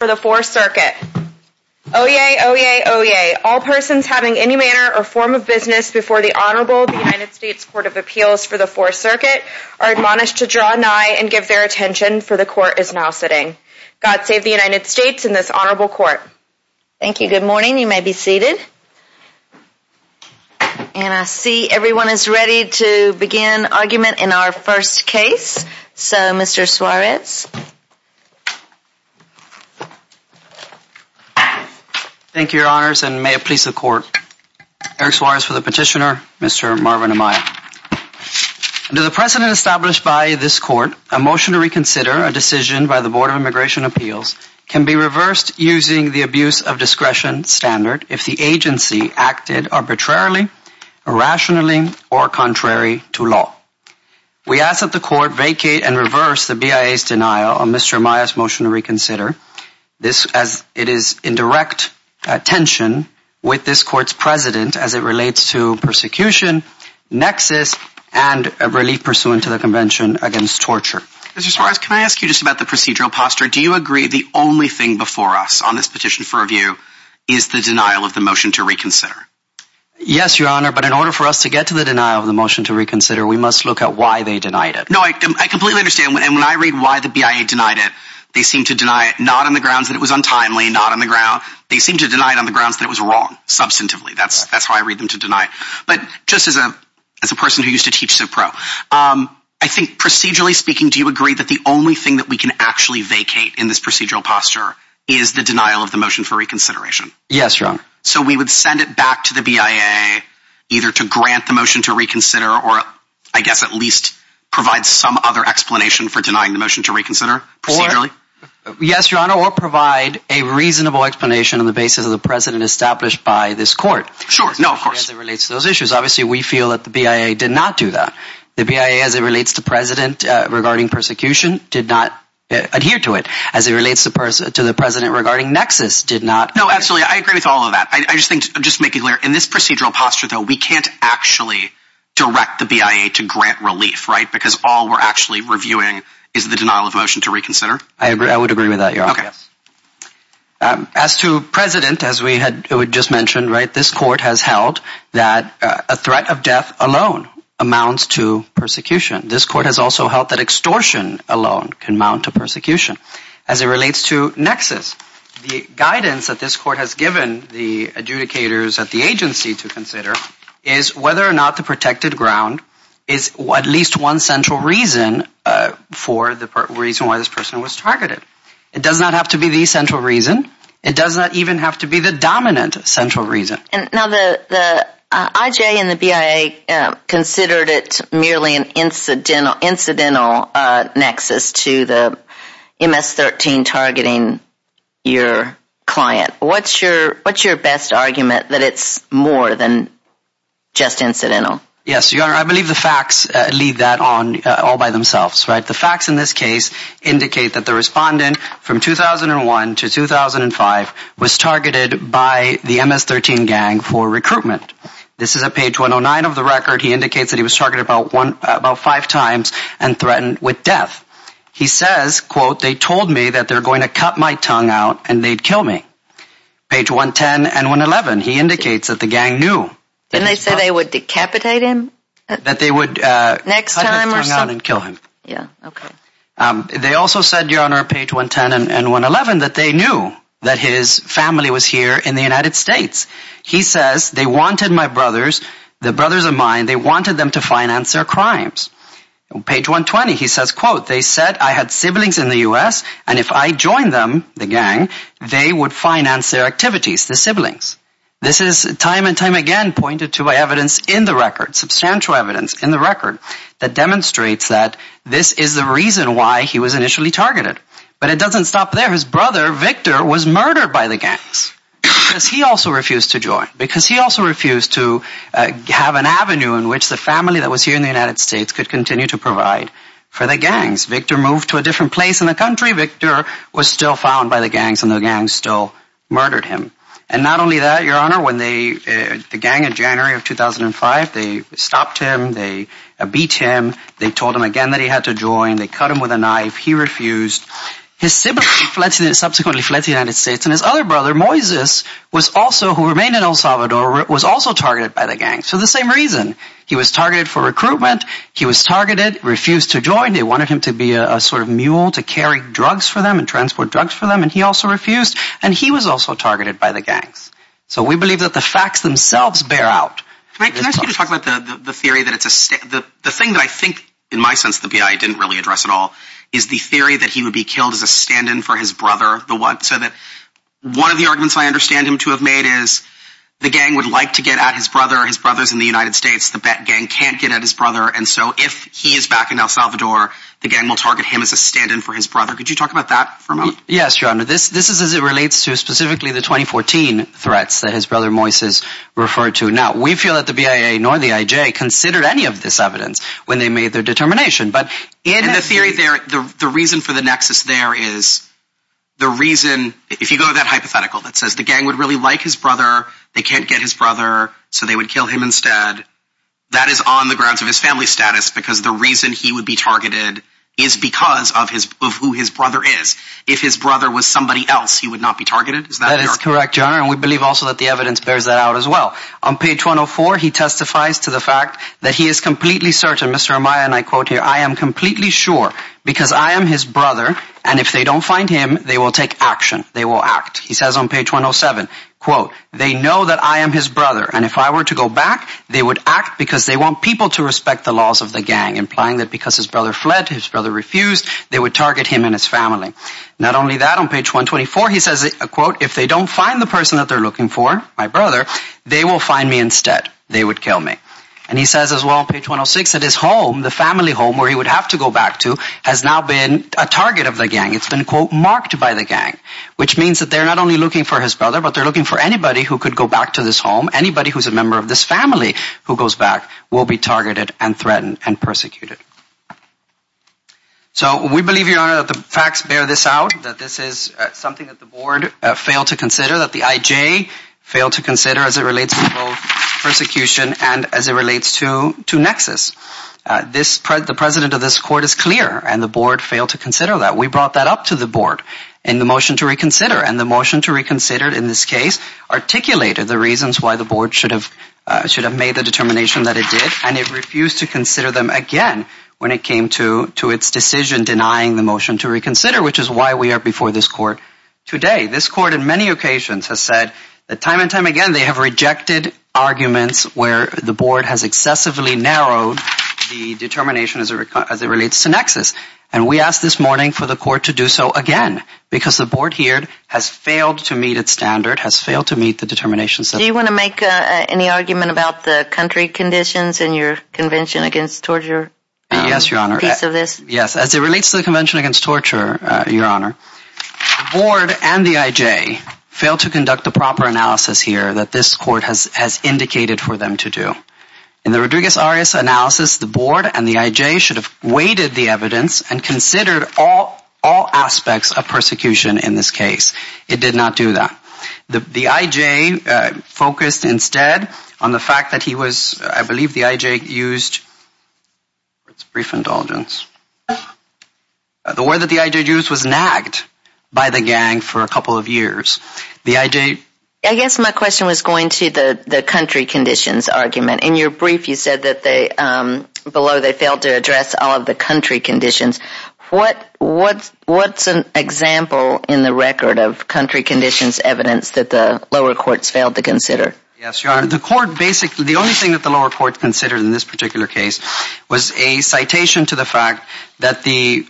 for the Fourth Circuit. Oyez, oyez, oyez. All persons having any manner or form of business before the Honorable United States Court of Appeals for the Fourth Circuit are admonished to draw nigh and give their attention, for the Court is now sitting. God save the United States and this Honorable Court. Thank you. Good morning. You may be seated. And I see you. Thank you, Your Honors, and may it please the Court. Eric Suarez for the petitioner, Mr. Marvin Amaya. Under the precedent established by this Court, a motion to reconsider a decision by the Board of Immigration Appeals can be reversed using the abuse of discretion standard if the agency acted arbitrarily, irrationally, or contrary to law. We ask that the Court vacate and reverse the BIA's denial of Mr. Amaya's motion to reconsider this as it is in direct tension with this Court's President as it relates to persecution, nexus, and relief pursuant to the Convention against Torture. Mr. Suarez, can I ask you just about the procedural posture? Do you agree the only thing before us on this petition for review is the denial of the motion to reconsider? Yes, Your Honor, but in order for us to get to the denial of the motion to reconsider, we must look at why they denied it. No, I completely understand, and when I read why the BIA denied it, they seem to deny it not on the grounds that it was untimely, not on the ground. They seem to deny it on the grounds that it was wrong, substantively. That's how I read them to deny it. But just as a person who used to teach so pro, I think procedurally speaking, do you agree that the only thing that we can actually vacate in this procedural posture is the denial of the motion for reconsideration? Yes, Your Honor. So we would send it back to the BIA either to grant the motion to reconsider or, I guess, at least provide some other explanation for denying the motion to reconsider procedurally? Yes, Your Honor, or provide a reasonable explanation on the basis of the precedent established by this court. Sure. No, of course. As it relates to those issues. Obviously, we feel that the BIA did not do that. The BIA, as it relates to precedent regarding persecution, did not adhere to it. As it relates to precedent regarding nexus, did not. No, absolutely. I agree with all of that. Just to make it clear, in this procedural posture, though, we can't actually direct the BIA to grant relief, right? Because all we're actually reviewing is the denial of motion to reconsider. I would agree with that, Your Honor. Okay. As to precedent, as we had just mentioned, right, this court has held that a threat of death alone amounts to persecution. This court has also held that extortion alone can amount to persecution. As it relates to nexus, the guidance that this court has given the adjudicators at the agency to consider is whether or not the protected ground is at least one central reason for the reason why this person was targeted. It does not have to be the central reason. It does not even have to be the dominant central reason. And now the IJ and the BIA considered it merely an incidental nexus to the MS-13 targeting your client. What's your best argument that it's more than just incidental? Yes, Your Honor, I believe the facts lead that on all by themselves, right? The facts in this case indicate that the respondent from 2001 to 2005 was targeted by the MS-13 gang for recruitment. This is at page 109 of the record. He indicates that he was targeted about five times and threatened with death. He says, quote, that they're going to cut my tongue out and they'd kill me. Page 110 and 111, he indicates that the gang knew. Didn't they say they would decapitate him? That they would cut his tongue out and kill him. Yeah, okay. They also said, Your Honor, page 110 and 111, that they knew that his family was here in the United States. He says, they wanted my brothers, the brothers of mine, they wanted them to finance their crimes. Page 120, he says, quote, they said I had siblings in the U.S. and if I joined them, the gang, they would finance their activities, the siblings. This is time and time again pointed to by evidence in the record, substantial evidence in the record, that demonstrates that this is the reason why he was initially targeted. But it doesn't stop there. His brother, Victor, was murdered by the gangs because he also refused to join, because he also refused to have an avenue in which the family that was here in the United States could continue to provide for the gangs. Victor moved to a different place in the country. Victor was still found by the gangs and the gangs still murdered him. And not only that, Your Honor, when they, the gang in January of 2005, they stopped him, they beat him, they told him again that he had to join, they cut him with a knife, he refused. His siblings subsequently fled the United States and his other brother, Moises, was also, who remained in El Salvador, was also targeted for recruitment, he was targeted, refused to join, they wanted him to be a sort of mule to carry drugs for them and transport drugs for them, and he also refused, and he was also targeted by the gangs. So we believe that the facts themselves bear out. Can I ask you to talk about the theory that it's a state, the thing that I think, in my sense, the BIA didn't really address at all, is the theory that he would be killed as a stand-in for his brother, the one, so that one of the arguments I understand him to have made is the gang would like to get at his brother, his brother's in the United States, the gang can't get at his brother, and so if he is back in El Salvador, the gang will target him as a stand-in for his brother. Could you talk about that for a moment? Yes, your honor, this is as it relates to specifically the 2014 threats that his brother, Moises, referred to. Now, we feel that the BIA, nor the IJ, considered any of this evidence when they made their determination, but in the theory there, the reason for the nexus there is the reason, if you go to that hypothetical that says the gang would really like his brother, they is on the grounds of his family status, because the reason he would be targeted is because of his, of who his brother is. If his brother was somebody else, he would not be targeted, is that correct? That is correct, your honor, and we believe also that the evidence bears that out as well. On page 104, he testifies to the fact that he is completely certain, Mr. Amaya and I quote here, I am completely sure, because I am his brother, and if they don't find him, they will take action, they will act. He says on page 107, quote, they know that I am his brother, and if I were to go back, they would act because they want people to respect the laws of the gang, implying that because his brother fled, his brother refused, they would target him and his family. Not only that, on page 124, he says a quote, if they don't find the person that they're looking for, my brother, they will find me instead. They would kill me. And he says as well, page 106, that his home, the family home, where he would have to go back to, has now been a target of the gang. It's been, quote, marked by the gang, which means that they're not only looking for his brother, but they're looking for anybody who could go back to this home, anybody who's a member of this family who goes back will be targeted and threatened and persecuted. So we believe, Your Honor, that the facts bear this out, that this is something that the Board failed to consider, that the IJ failed to consider as it relates to both persecution and as it relates to Nexus. This, the President of this Court is clear, and the Board failed to consider that. We brought that up to the Board in the motion to reconsider, and the motion to reconsider in this case articulated the reasons why the Board should have, should have made the determination that it did, and it refused to consider them again when it came to, to its decision denying the motion to reconsider, which is why we are before this Court today. This Court in many occasions has said that time and time again they have rejected arguments where the Board has excessively narrowed the determination as it relates to Nexus. And we ask this morning for the Court to do so again, because the Board here has failed to meet its standard, has failed to meet the determination. Do you want to make any argument about the country conditions in your Convention Against Torture piece of this? Yes, as it relates to the Convention Against Torture, Your Honor, the Board and the IJ failed to conduct the proper analysis here that this Court has, has indicated for them to do. In the Rodriguez-Arias analysis, the Board and the IJ should have weighted the evidence and considered all, all aspects of persecution in this case. It did not do that. The, the IJ focused instead on the fact that he was, I believe the IJ used, brief indulgence, the word that the IJ used was nagged by the gang for a couple of years. The IJ. I guess my question was going to the, the country conditions argument. In your brief you said that they, below they failed to address all of the country conditions. What, what, what's an example in the record of country conditions evidence that the lower courts failed to consider? Yes, Your Honor, the Court basically, the only thing that the lower courts considered in this particular case was a citation to the fact that the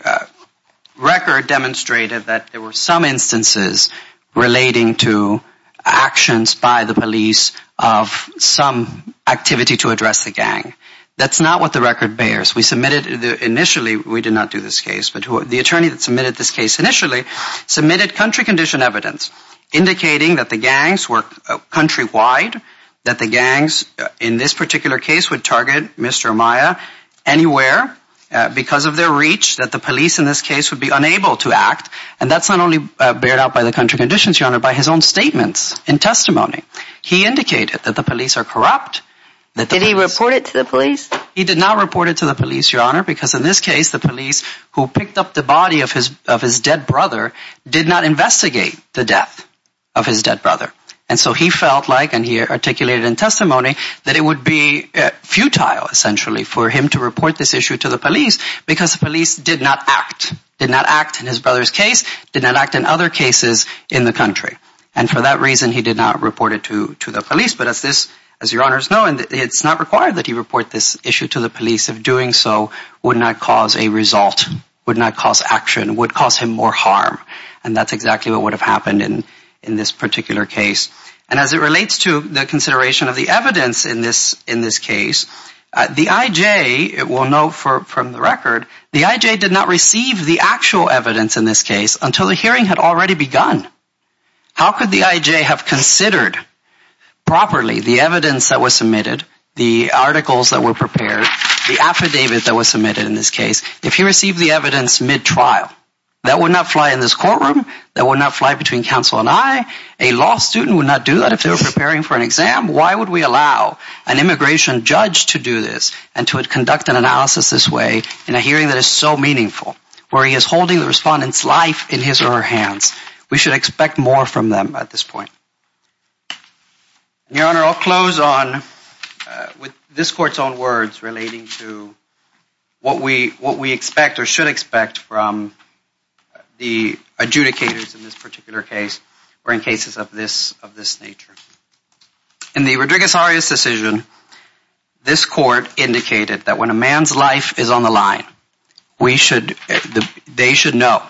record demonstrated that there were some instances relating to actions by the police of some activity to address the gang. That's not what the attorney initially, we did not do this case, but who, the attorney that submitted this case initially submitted country condition evidence indicating that the gangs were countrywide, that the gangs in this particular case would target Mr. Amaya anywhere because of their reach, that the police in this case would be unable to act. And that's not only bared out by the country conditions, Your Honor, by his own statements and testimony. He indicated that the police are corrupt. Did he report it to the police? He did not report it to the police, Your Honor, because in this case the police who picked up the body of his, of his dead brother did not investigate the death of his dead brother. And so he felt like, and he articulated in testimony, that it would be futile essentially for him to report this issue to the police because the police did not act, did not act in his brother's case, did not act in other cases in the country. And for that reason, he felt that this issue to the police of doing so would not cause a result, would not cause action, would cause him more harm. And that's exactly what would have happened in, in this particular case. And as it relates to the consideration of the evidence in this, in this case, the IJ, it will note for, from the record, the IJ did not receive the actual evidence in this case until the hearing had already begun. How could the IJ have considered properly the evidence that was submitted, the articles that were prepared, the affidavit that was submitted in this case, if he received the evidence mid-trial? That would not fly in this courtroom. That would not fly between counsel and I. A law student would not do that if they were preparing for an exam. Why would we allow an immigration judge to do this and to conduct an analysis this way in a hearing that is so meaningful, where he is holding the case in his hands? That would not be acceptable at this point. Your Honor, I'll close on, with this court's own words relating to what we, what we expect or should expect from the adjudicators in this particular case, or in cases of this, of this nature. In the Rodriguez-Arias decision, this court indicated that when a man's life is on the line, we should, they should know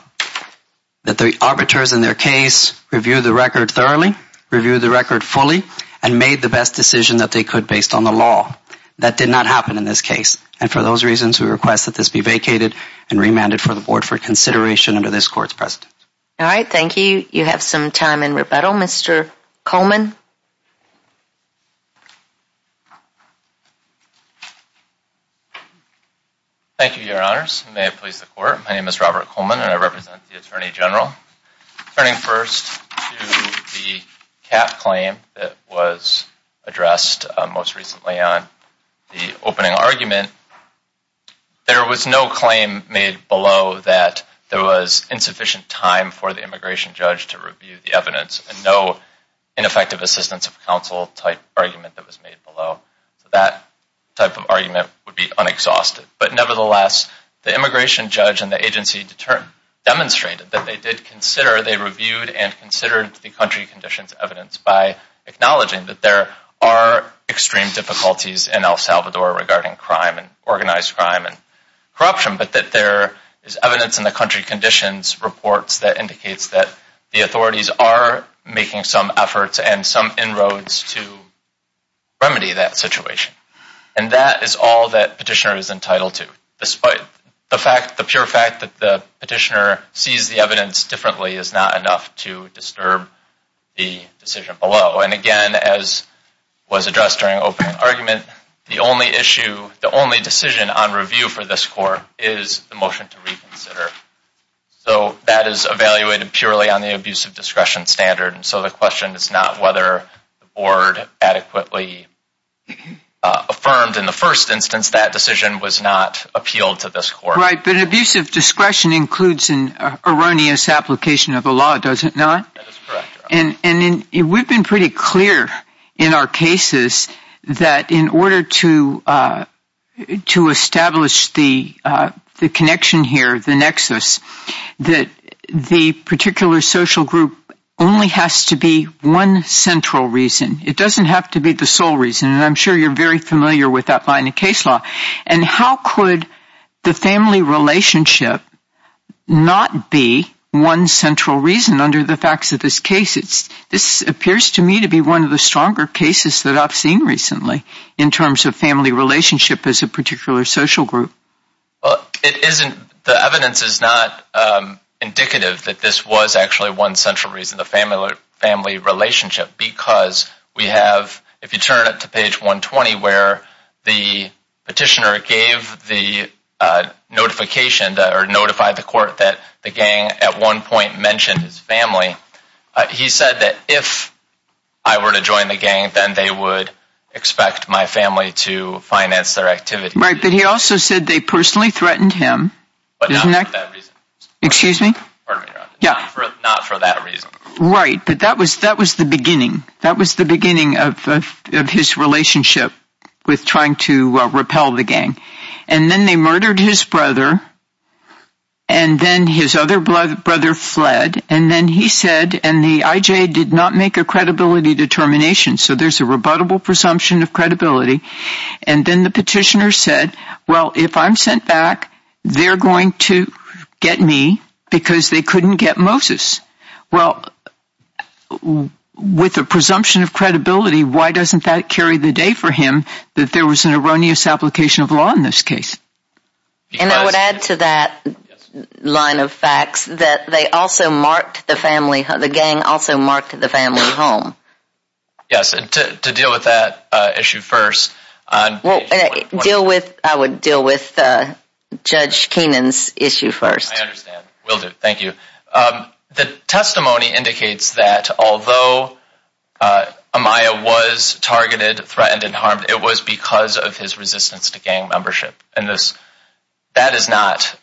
that the arbiters in their case reviewed the record thoroughly, reviewed the record fully, and made the best decision that they could based on the law. That did not happen in this case. And for those reasons, we request that this be vacated and remanded for the board for consideration under this court's precedent. All right. Thank you. You have some time in rebuttal. Mr. Coleman. Thank you, Your Honors. May it please the court. My name is Robert Coleman, and I represent the Attorney General. Turning first to the cap claim that was addressed most recently on the opening argument, there was no claim made below that there was insufficient time for the immigration judge to review the evidence, and no ineffective assistance of counsel type argument that was made below. So that type of argument would be unexhausted. But nevertheless, the immigration judge and the agency determined, demonstrated that they did consider, they reviewed and considered the country conditions evidence by acknowledging that there are extreme difficulties in El Salvador regarding crime and organized crime and corruption, but that there is evidence in the country conditions reports that indicates that the immigration judge did not have sufficient time and resources and some inroads to remedy that situation. And that is all that petitioner is entitled to. The pure fact that the petitioner sees the evidence differently is not enough to disturb the decision below. And again, as was addressed during opening argument, the only issue, the only issue is whether the board adequately affirmed in the first instance that decision was not appealed to this court. Right, but abusive discretion includes an erroneous application of the law, does it not? That is correct, Your Honor. And we've been pretty clear in our cases that in order to establish the connection here, the nexus, that the It doesn't have to be the sole reason, and I'm sure you're very familiar with that line of case law. And how could the family relationship not be one central reason under the facts of this case? This appears to me to be one of the stronger cases that I've seen recently in terms of family relationship as a particular social group. Well, it isn't. The evidence is not indicative that this was actually one central reason, the family relationship, because we have, if you turn it to page 120, where the petitioner gave the notification or notified the court that the gang at one point mentioned his family, he said that if I were to join the gang, then they would expect my family to finance their activity. Right, but he also said they personally threatened him. But not for that reason. Excuse me? Pardon me, Your Honor. Not for that reason. Right, but that was the beginning. That was the beginning of his relationship with trying to repel the gang. And then they murdered his brother, and then his other brother fled. And then he said, and the IJ did not make a credibility determination, so there's a rebuttable presumption of credibility. And then the petitioner said, well, if I'm sent back, they're going to get me because they couldn't get Moses. Well, with a presumption of credibility, why doesn't that carry the day for him that there was an erroneous application of law in this case? And I would add to that line of facts that they also marked the family, the gang also marked the family home. Yes, and to deal with that issue first. Well, deal with, I would deal with Judge Keenan's issue first. I understand. Will do. Thank you. The testimony indicates that although Amaya was targeted, threatened, and harmed, it was because of his resistance to gang membership. And this, that is not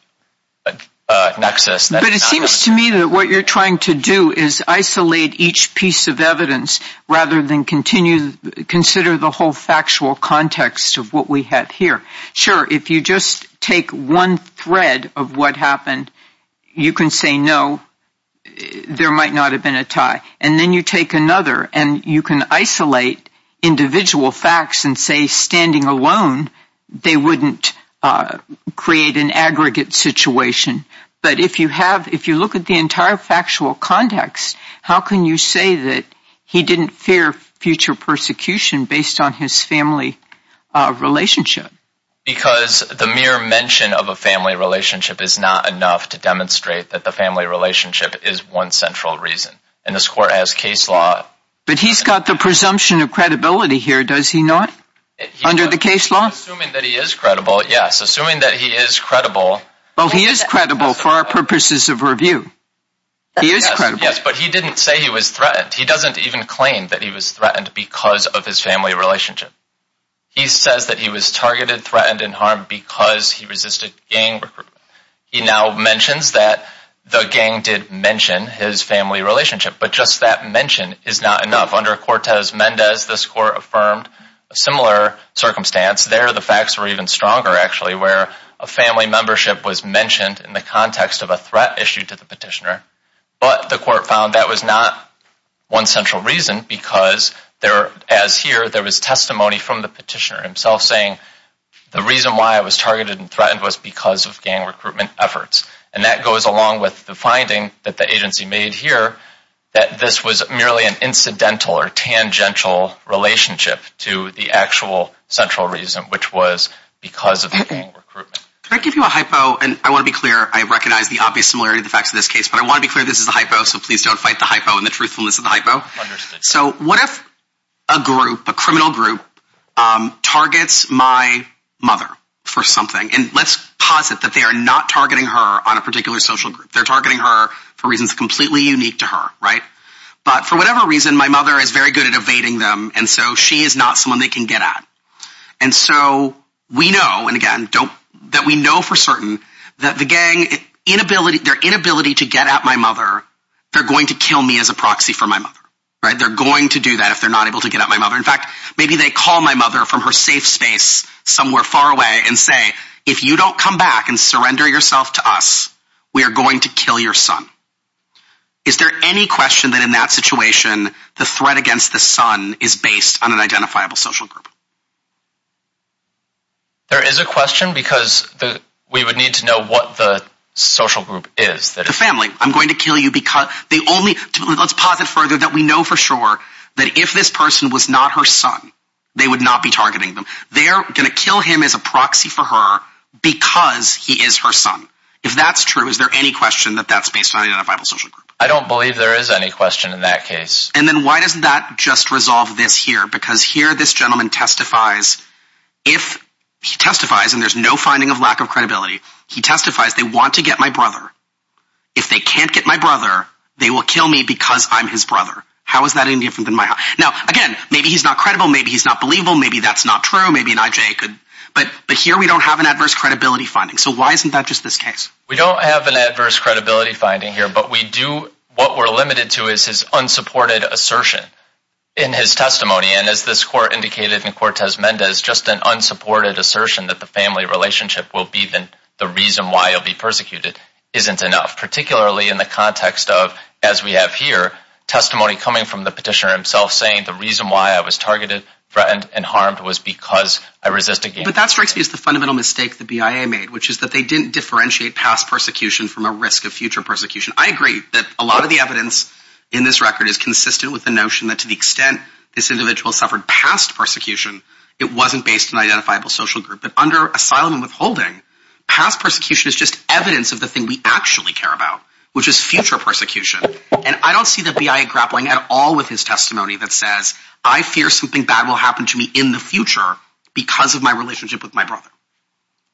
a nexus. But it seems to me that what you're trying to do is isolate each piece of evidence rather than continue, consider the whole factual context of what we have here. Sure, if you just take one thread of what happened, you can say, no, there might not have been a tie. And then you take another and you can isolate individual facts and say, standing alone, they wouldn't create an aggregate situation. But if you have, if you look at the entire factual context, how can you say that he didn't fear future persecution based on his family relationship? Because the mere mention of a family relationship is not enough to demonstrate that the family relationship is one central reason. And this court has case law. But he's got the presumption of credibility here, does he not? Under the case law? Assuming that he is credible, yes. Assuming that he is credible. Well, he is credible for our purposes of review. He is credible. Yes, but he didn't say he was threatened. He doesn't even claim that he was threatened because of his family relationship. He says that he was targeted, threatened, and harmed because he resisted gang recruitment. He now mentions that the gang did mention his family relationship. But just that mention is not enough. Under Cortez-Mendez, this court affirmed a similar circumstance. There, the facts were even stronger, actually, where a family membership was mentioned in the context of a threat issued to the petitioner. But the court found that was not one central reason because there, as here, there was testimony from the petitioner himself saying, the reason why I was targeted and threatened was because of gang recruitment efforts. And that goes along with the finding that the agency made here, that this was merely an incidental or tangential relationship to the actual central reason, which was because of gang recruitment. Can I give you a hypo? And I want to be clear, I recognize the obvious similarity of the facts of this case, but I want to be clear this is a hypo, so please don't fight the hypo and the truthfulness of the hypo. So what if a group, a criminal group, targets my mother for something? And let's posit that they are not targeting her on a particular social group. They're targeting her for reasons completely unique to her, right? But for whatever reason, my mother is very good at evading them, and so she is not someone they can get at. And so we know, and again, don't, that we know for certain that the gang inability, their inability to get at my mother, they're going to kill me as a proxy for my mother, right? They're going to do that if they're not able to get at my mother. In fact, maybe they call my mother from her safe space somewhere far away and say, if you don't come back and surrender yourself to us, we are going to kill your son. Is there any question that in that situation, the threat against the son is based on an identifiable social group? There is a question, because we would need to know what the social group is. The family, I'm going to kill you because they only, let's posit further that we know for sure that if this person was not her son, they would not be targeting them. They're going to kill him as a proxy for her because he is her son. If that's true, is there any question that that's based on an identifiable social group? I don't believe there is any question in that case. And then why doesn't that just resolve this here? Because here this gentleman testifies, and there's no finding of lack of credibility, he testifies, they want to get my brother. If they can't get my brother, they will kill me because I'm his brother. How is that any different than my... Now again, maybe he's not credible, maybe he's not believable, maybe that's not true, maybe an IJ could... But here we don't have an adverse credibility finding. So why isn't that just this case? We don't have an adverse credibility finding here, but we do, what we're limited to is his unsupported assertion in his testimony. And as this court indicated in Cortez-Mendez, just an unsupported assertion that the family relationship will be the reason why he'll be persecuted isn't enough. Particularly in the context of, as we have here, testimony coming from the petitioner himself saying the reason why I was targeted, threatened, and harmed was because I resisted... But that strikes me as the fundamental mistake the BIA made, which is that they didn't differentiate past persecution from a risk of future persecution. I agree that a lot of the evidence in this record is consistent with the notion that to the extent this individual suffered past persecution, it wasn't based on identifiable social group. But under asylum and withholding, past persecution is just evidence of the which is future persecution. And I don't see the BIA grappling at all with his testimony that says, I fear something bad will happen to me in the future because of my relationship with my brother.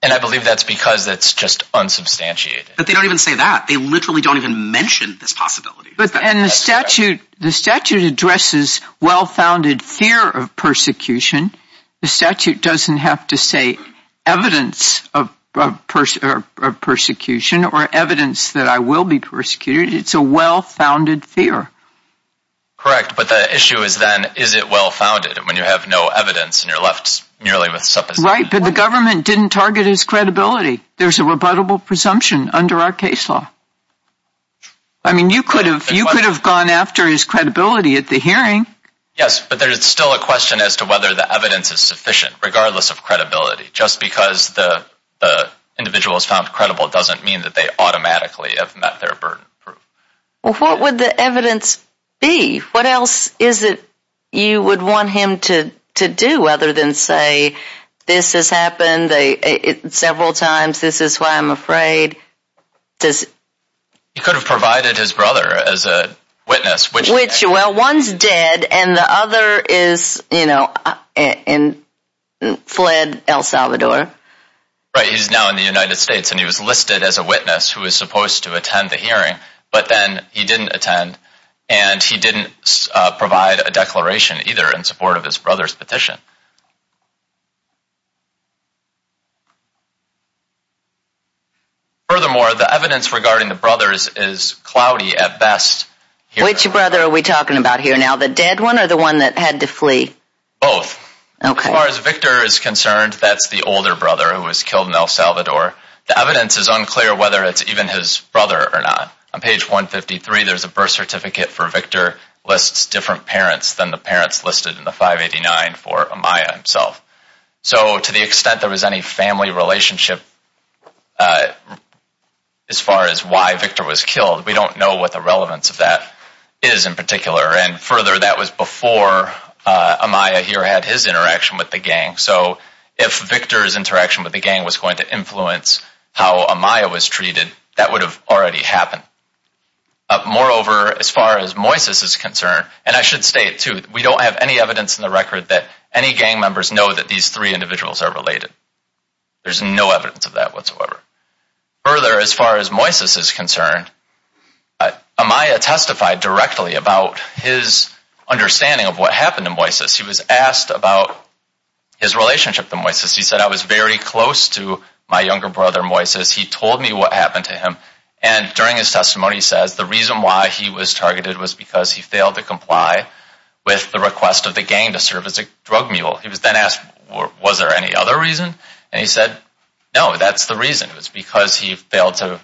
And I believe that's because that's just unsubstantiated. But they don't even say that. They literally don't even mention this possibility. And the statute addresses well-founded fear of persecution. The statute doesn't have to say evidence of persecution or evidence that I will be persecuted. It's a well-founded fear. Correct. But the issue is then, is it well-founded when you have no evidence and you're left merely with supposition? Right. But the government didn't target his credibility. There's a rebuttable presumption under our case law. I mean, you could have gone after his credibility at the hearing. Yes, but there's still a question as to whether the evidence is sufficient, regardless of credibility. Just because the individual is found credible doesn't mean that they automatically have met their burden of proof. Well, what would the evidence be? What else is it you would want him to do other than say, this has happened several times. This is why I'm afraid. He could have provided his brother as a witness. Which, well, one's dead and the other is, you know, fled El Salvador. Right, he's now in the United States and he was listed as a witness who was supposed to attend the hearing. But then he didn't attend and he didn't provide a declaration either in support of his brother's petition. Furthermore, the evidence regarding the brothers is cloudy at best. Which brother are we talking about here now? The dead one or the one that had to flee? Both. Okay. As far as Victor is concerned, that's the older brother who was killed in El Salvador. The evidence is unclear whether it's even his brother or not. On page 153, there's a birth certificate for Victor, lists different parents than the parents listed in the 589 for Amaya himself. So to the extent there was any family relationship as far as why Victor was killed, we don't know what the relevance of that is in particular. And further, that was before Amaya here had his interaction with the gang. So if Victor's interaction with the gang was going to influence how Amaya was treated, that would have already happened. Moreover, as far as Moises is concerned, and I should state too, we don't have any evidence in the record that any gang members know that these three individuals are related. There's no evidence of that whatsoever. Further, as far as Moises is concerned, Amaya testified directly about his understanding of what happened to Moises. He was asked about his relationship to Moises. He said, I was very close to my younger brother Moises. He told me what happened to him. And during his testimony, he says the reason why he was targeted was because he failed to comply with the request of the gang to serve as a drug mule. He was then asked, was there any other reason? And he said, no, that's the reason. It was because he failed to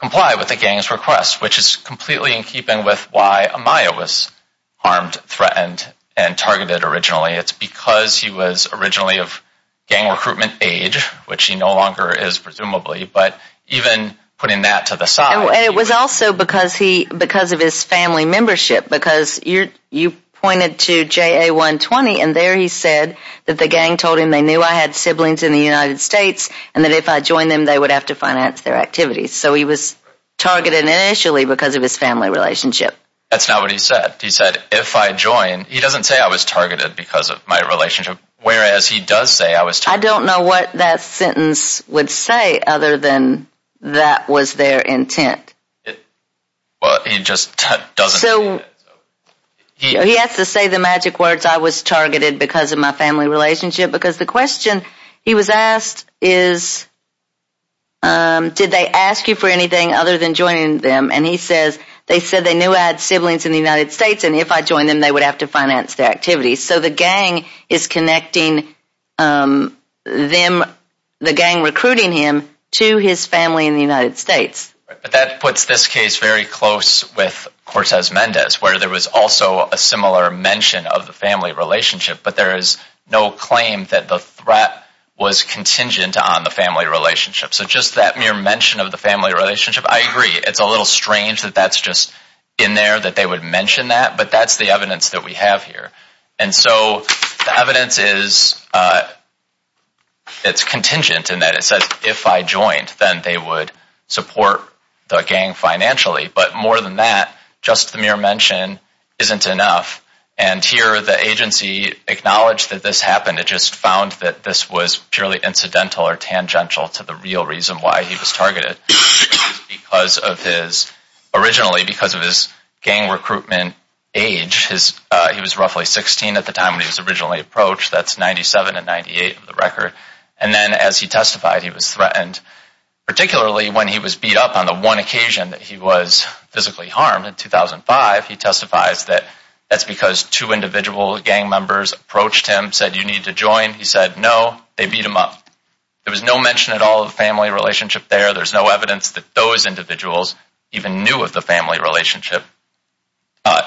comply with the gang's request, which is completely in keeping with why Amaya was harmed, threatened, and targeted originally. It's because he was originally of gang recruitment age, which he no longer is presumably, but even putting that to the side. And it was also because of his family membership. Because you pointed to JA120, and there he said that the gang told him they knew I had siblings in the United States, and that if I joined them, they would have to finance their activities. So he was targeted initially because of his family relationship. That's not what he said. He said, if I join, he doesn't say I was targeted because of my relationship. Whereas he does say I was targeted. I don't know what that sentence would say other than that was their intent. Well, he just doesn't. So he has to say the magic words, I was targeted because of my family relationship. Because the question he was asked is, did they ask you for anything other than joining them? And he says, they said they knew I had siblings in the United States, and if I joined them, they would have to finance their activities. So the gang is connecting them, the gang recruiting him to his family in the United States. But that puts this case very close with Cortez Mendez, where there was also a similar mention of the family relationship. But there is no claim that the threat was contingent on the family relationship. So just that mere mention of the family relationship, I agree. It's a little strange that that's just in there, that they would mention that. But that's the evidence that we have here. And so the evidence is, it's contingent in that it says, if I joined, then they would support the gang financially. But more than that, just the mere mention isn't enough. And here, the agency acknowledged that this happened. It just found that this was purely incidental or tangential to the real reason why he was targeted. Because of his, originally because of his gang recruitment age, he was roughly 16 at the time when he was originally approached. That's 97 and 98 on the record. And then as he testified, he was threatened. Particularly when he was beat up on the one occasion that he was physically harmed in 2005. He testifies that that's because two individual gang members approached him, said, you need to join. He said, no. They beat him up. There was no mention at all of the family relationship there. There's no evidence that those individuals even knew of the family relationship,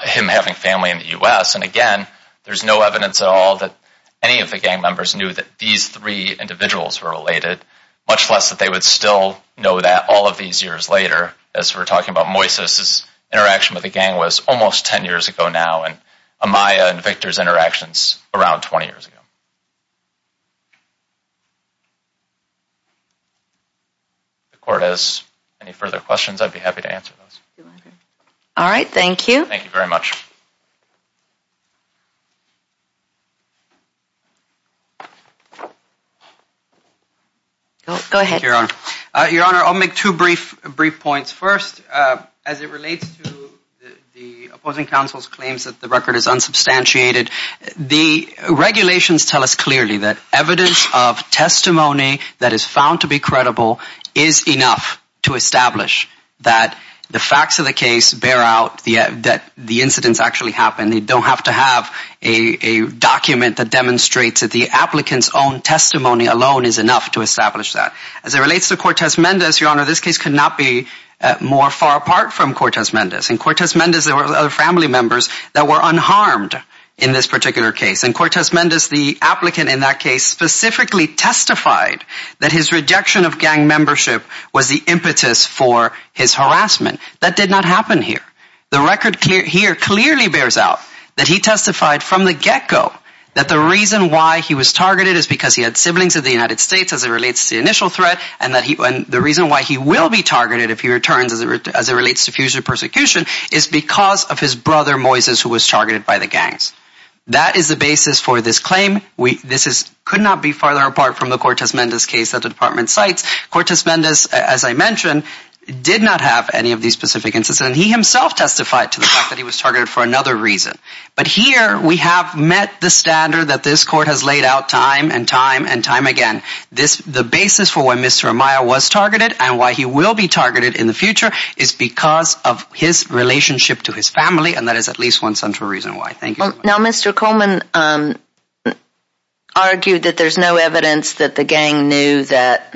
him having family in the U.S. And again, there's no evidence at all that any of the gang members knew that these three individuals were related, much less that they would still know that all of these years later, as we're talking about Moises's interaction with the gang was almost 10 years ago now, and Amaya and Victor's interactions around 20 years ago. If the court has any further questions, I'd be happy to answer those. All right. Thank you. Thank you very much. Go ahead, Your Honor. Your Honor, I'll make two brief points. First, as it relates to the opposing counsel's claims that the record is unsubstantiated, the regulations tell us clearly that evidence of testimony that is found to be credible is enough to establish that the facts of the case bear out that the incidents actually happen. They don't have to have a document that demonstrates that the applicant's own testimony alone is enough to establish that. As it relates to Cortez Mendez, Your Honor, this case could not be more far apart from Cortez Mendez. In Cortez Mendez, there were other family members that were unharmed in this particular case. In Cortez Mendez, the applicant in that case specifically testified that his rejection of gang membership was the impetus for his harassment. That did not happen here. The record here clearly bears out that he testified from the get-go that the reason why he was targeted is because he had siblings in the United States, as it relates to the initial threat, and the reason why he will be targeted if he returns, as it relates to future persecution, is because of his brother, Moises, who was targeted by the gangs. That is the basis for this claim. This could not be farther apart from the Cortez Mendez case that the Department cites. Cortez Mendez, as I mentioned, did not have any of these specific incidents, and he himself testified to the fact that he was targeted for another reason. But here, we have met the standard that this Court has laid out time and time and time again. The basis for why Mr. Amaya was targeted and why he will be targeted in the future is because of his relationship to his family, and that is at least one central reason why. Thank you. Now, Mr. Coleman argued that there's no evidence that the gang knew that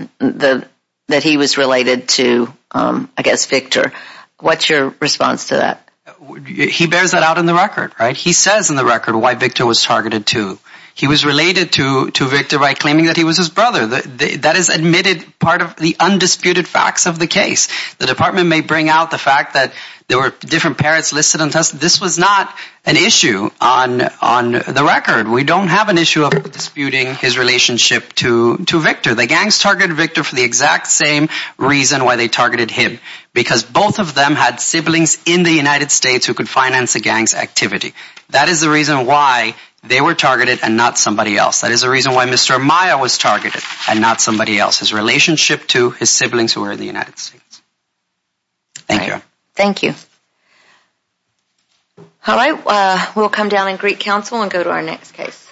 he was related to, I guess, Victor. What's your response to that? He bears that out in the record, right? He says in the record why Victor was targeted, too. He was related to Victor by claiming that he was his brother. That is admitted part of the undisputed facts of the case. The Department may bring out the fact that there were different parents listed on test. This was not an issue on the record. We don't have an issue of disputing his relationship to Victor. The gangs targeted Victor for the exact same reason why they targeted him, because both of them had siblings in the United States who could finance a gang's activity. That is the reason why they were targeted and not somebody else. That is the reason why Mr. Amaya was targeted and not somebody else, his relationship to his siblings who were in the United States. Thank you. Thank you. All right, we'll come down in Greek Council and go to our next case.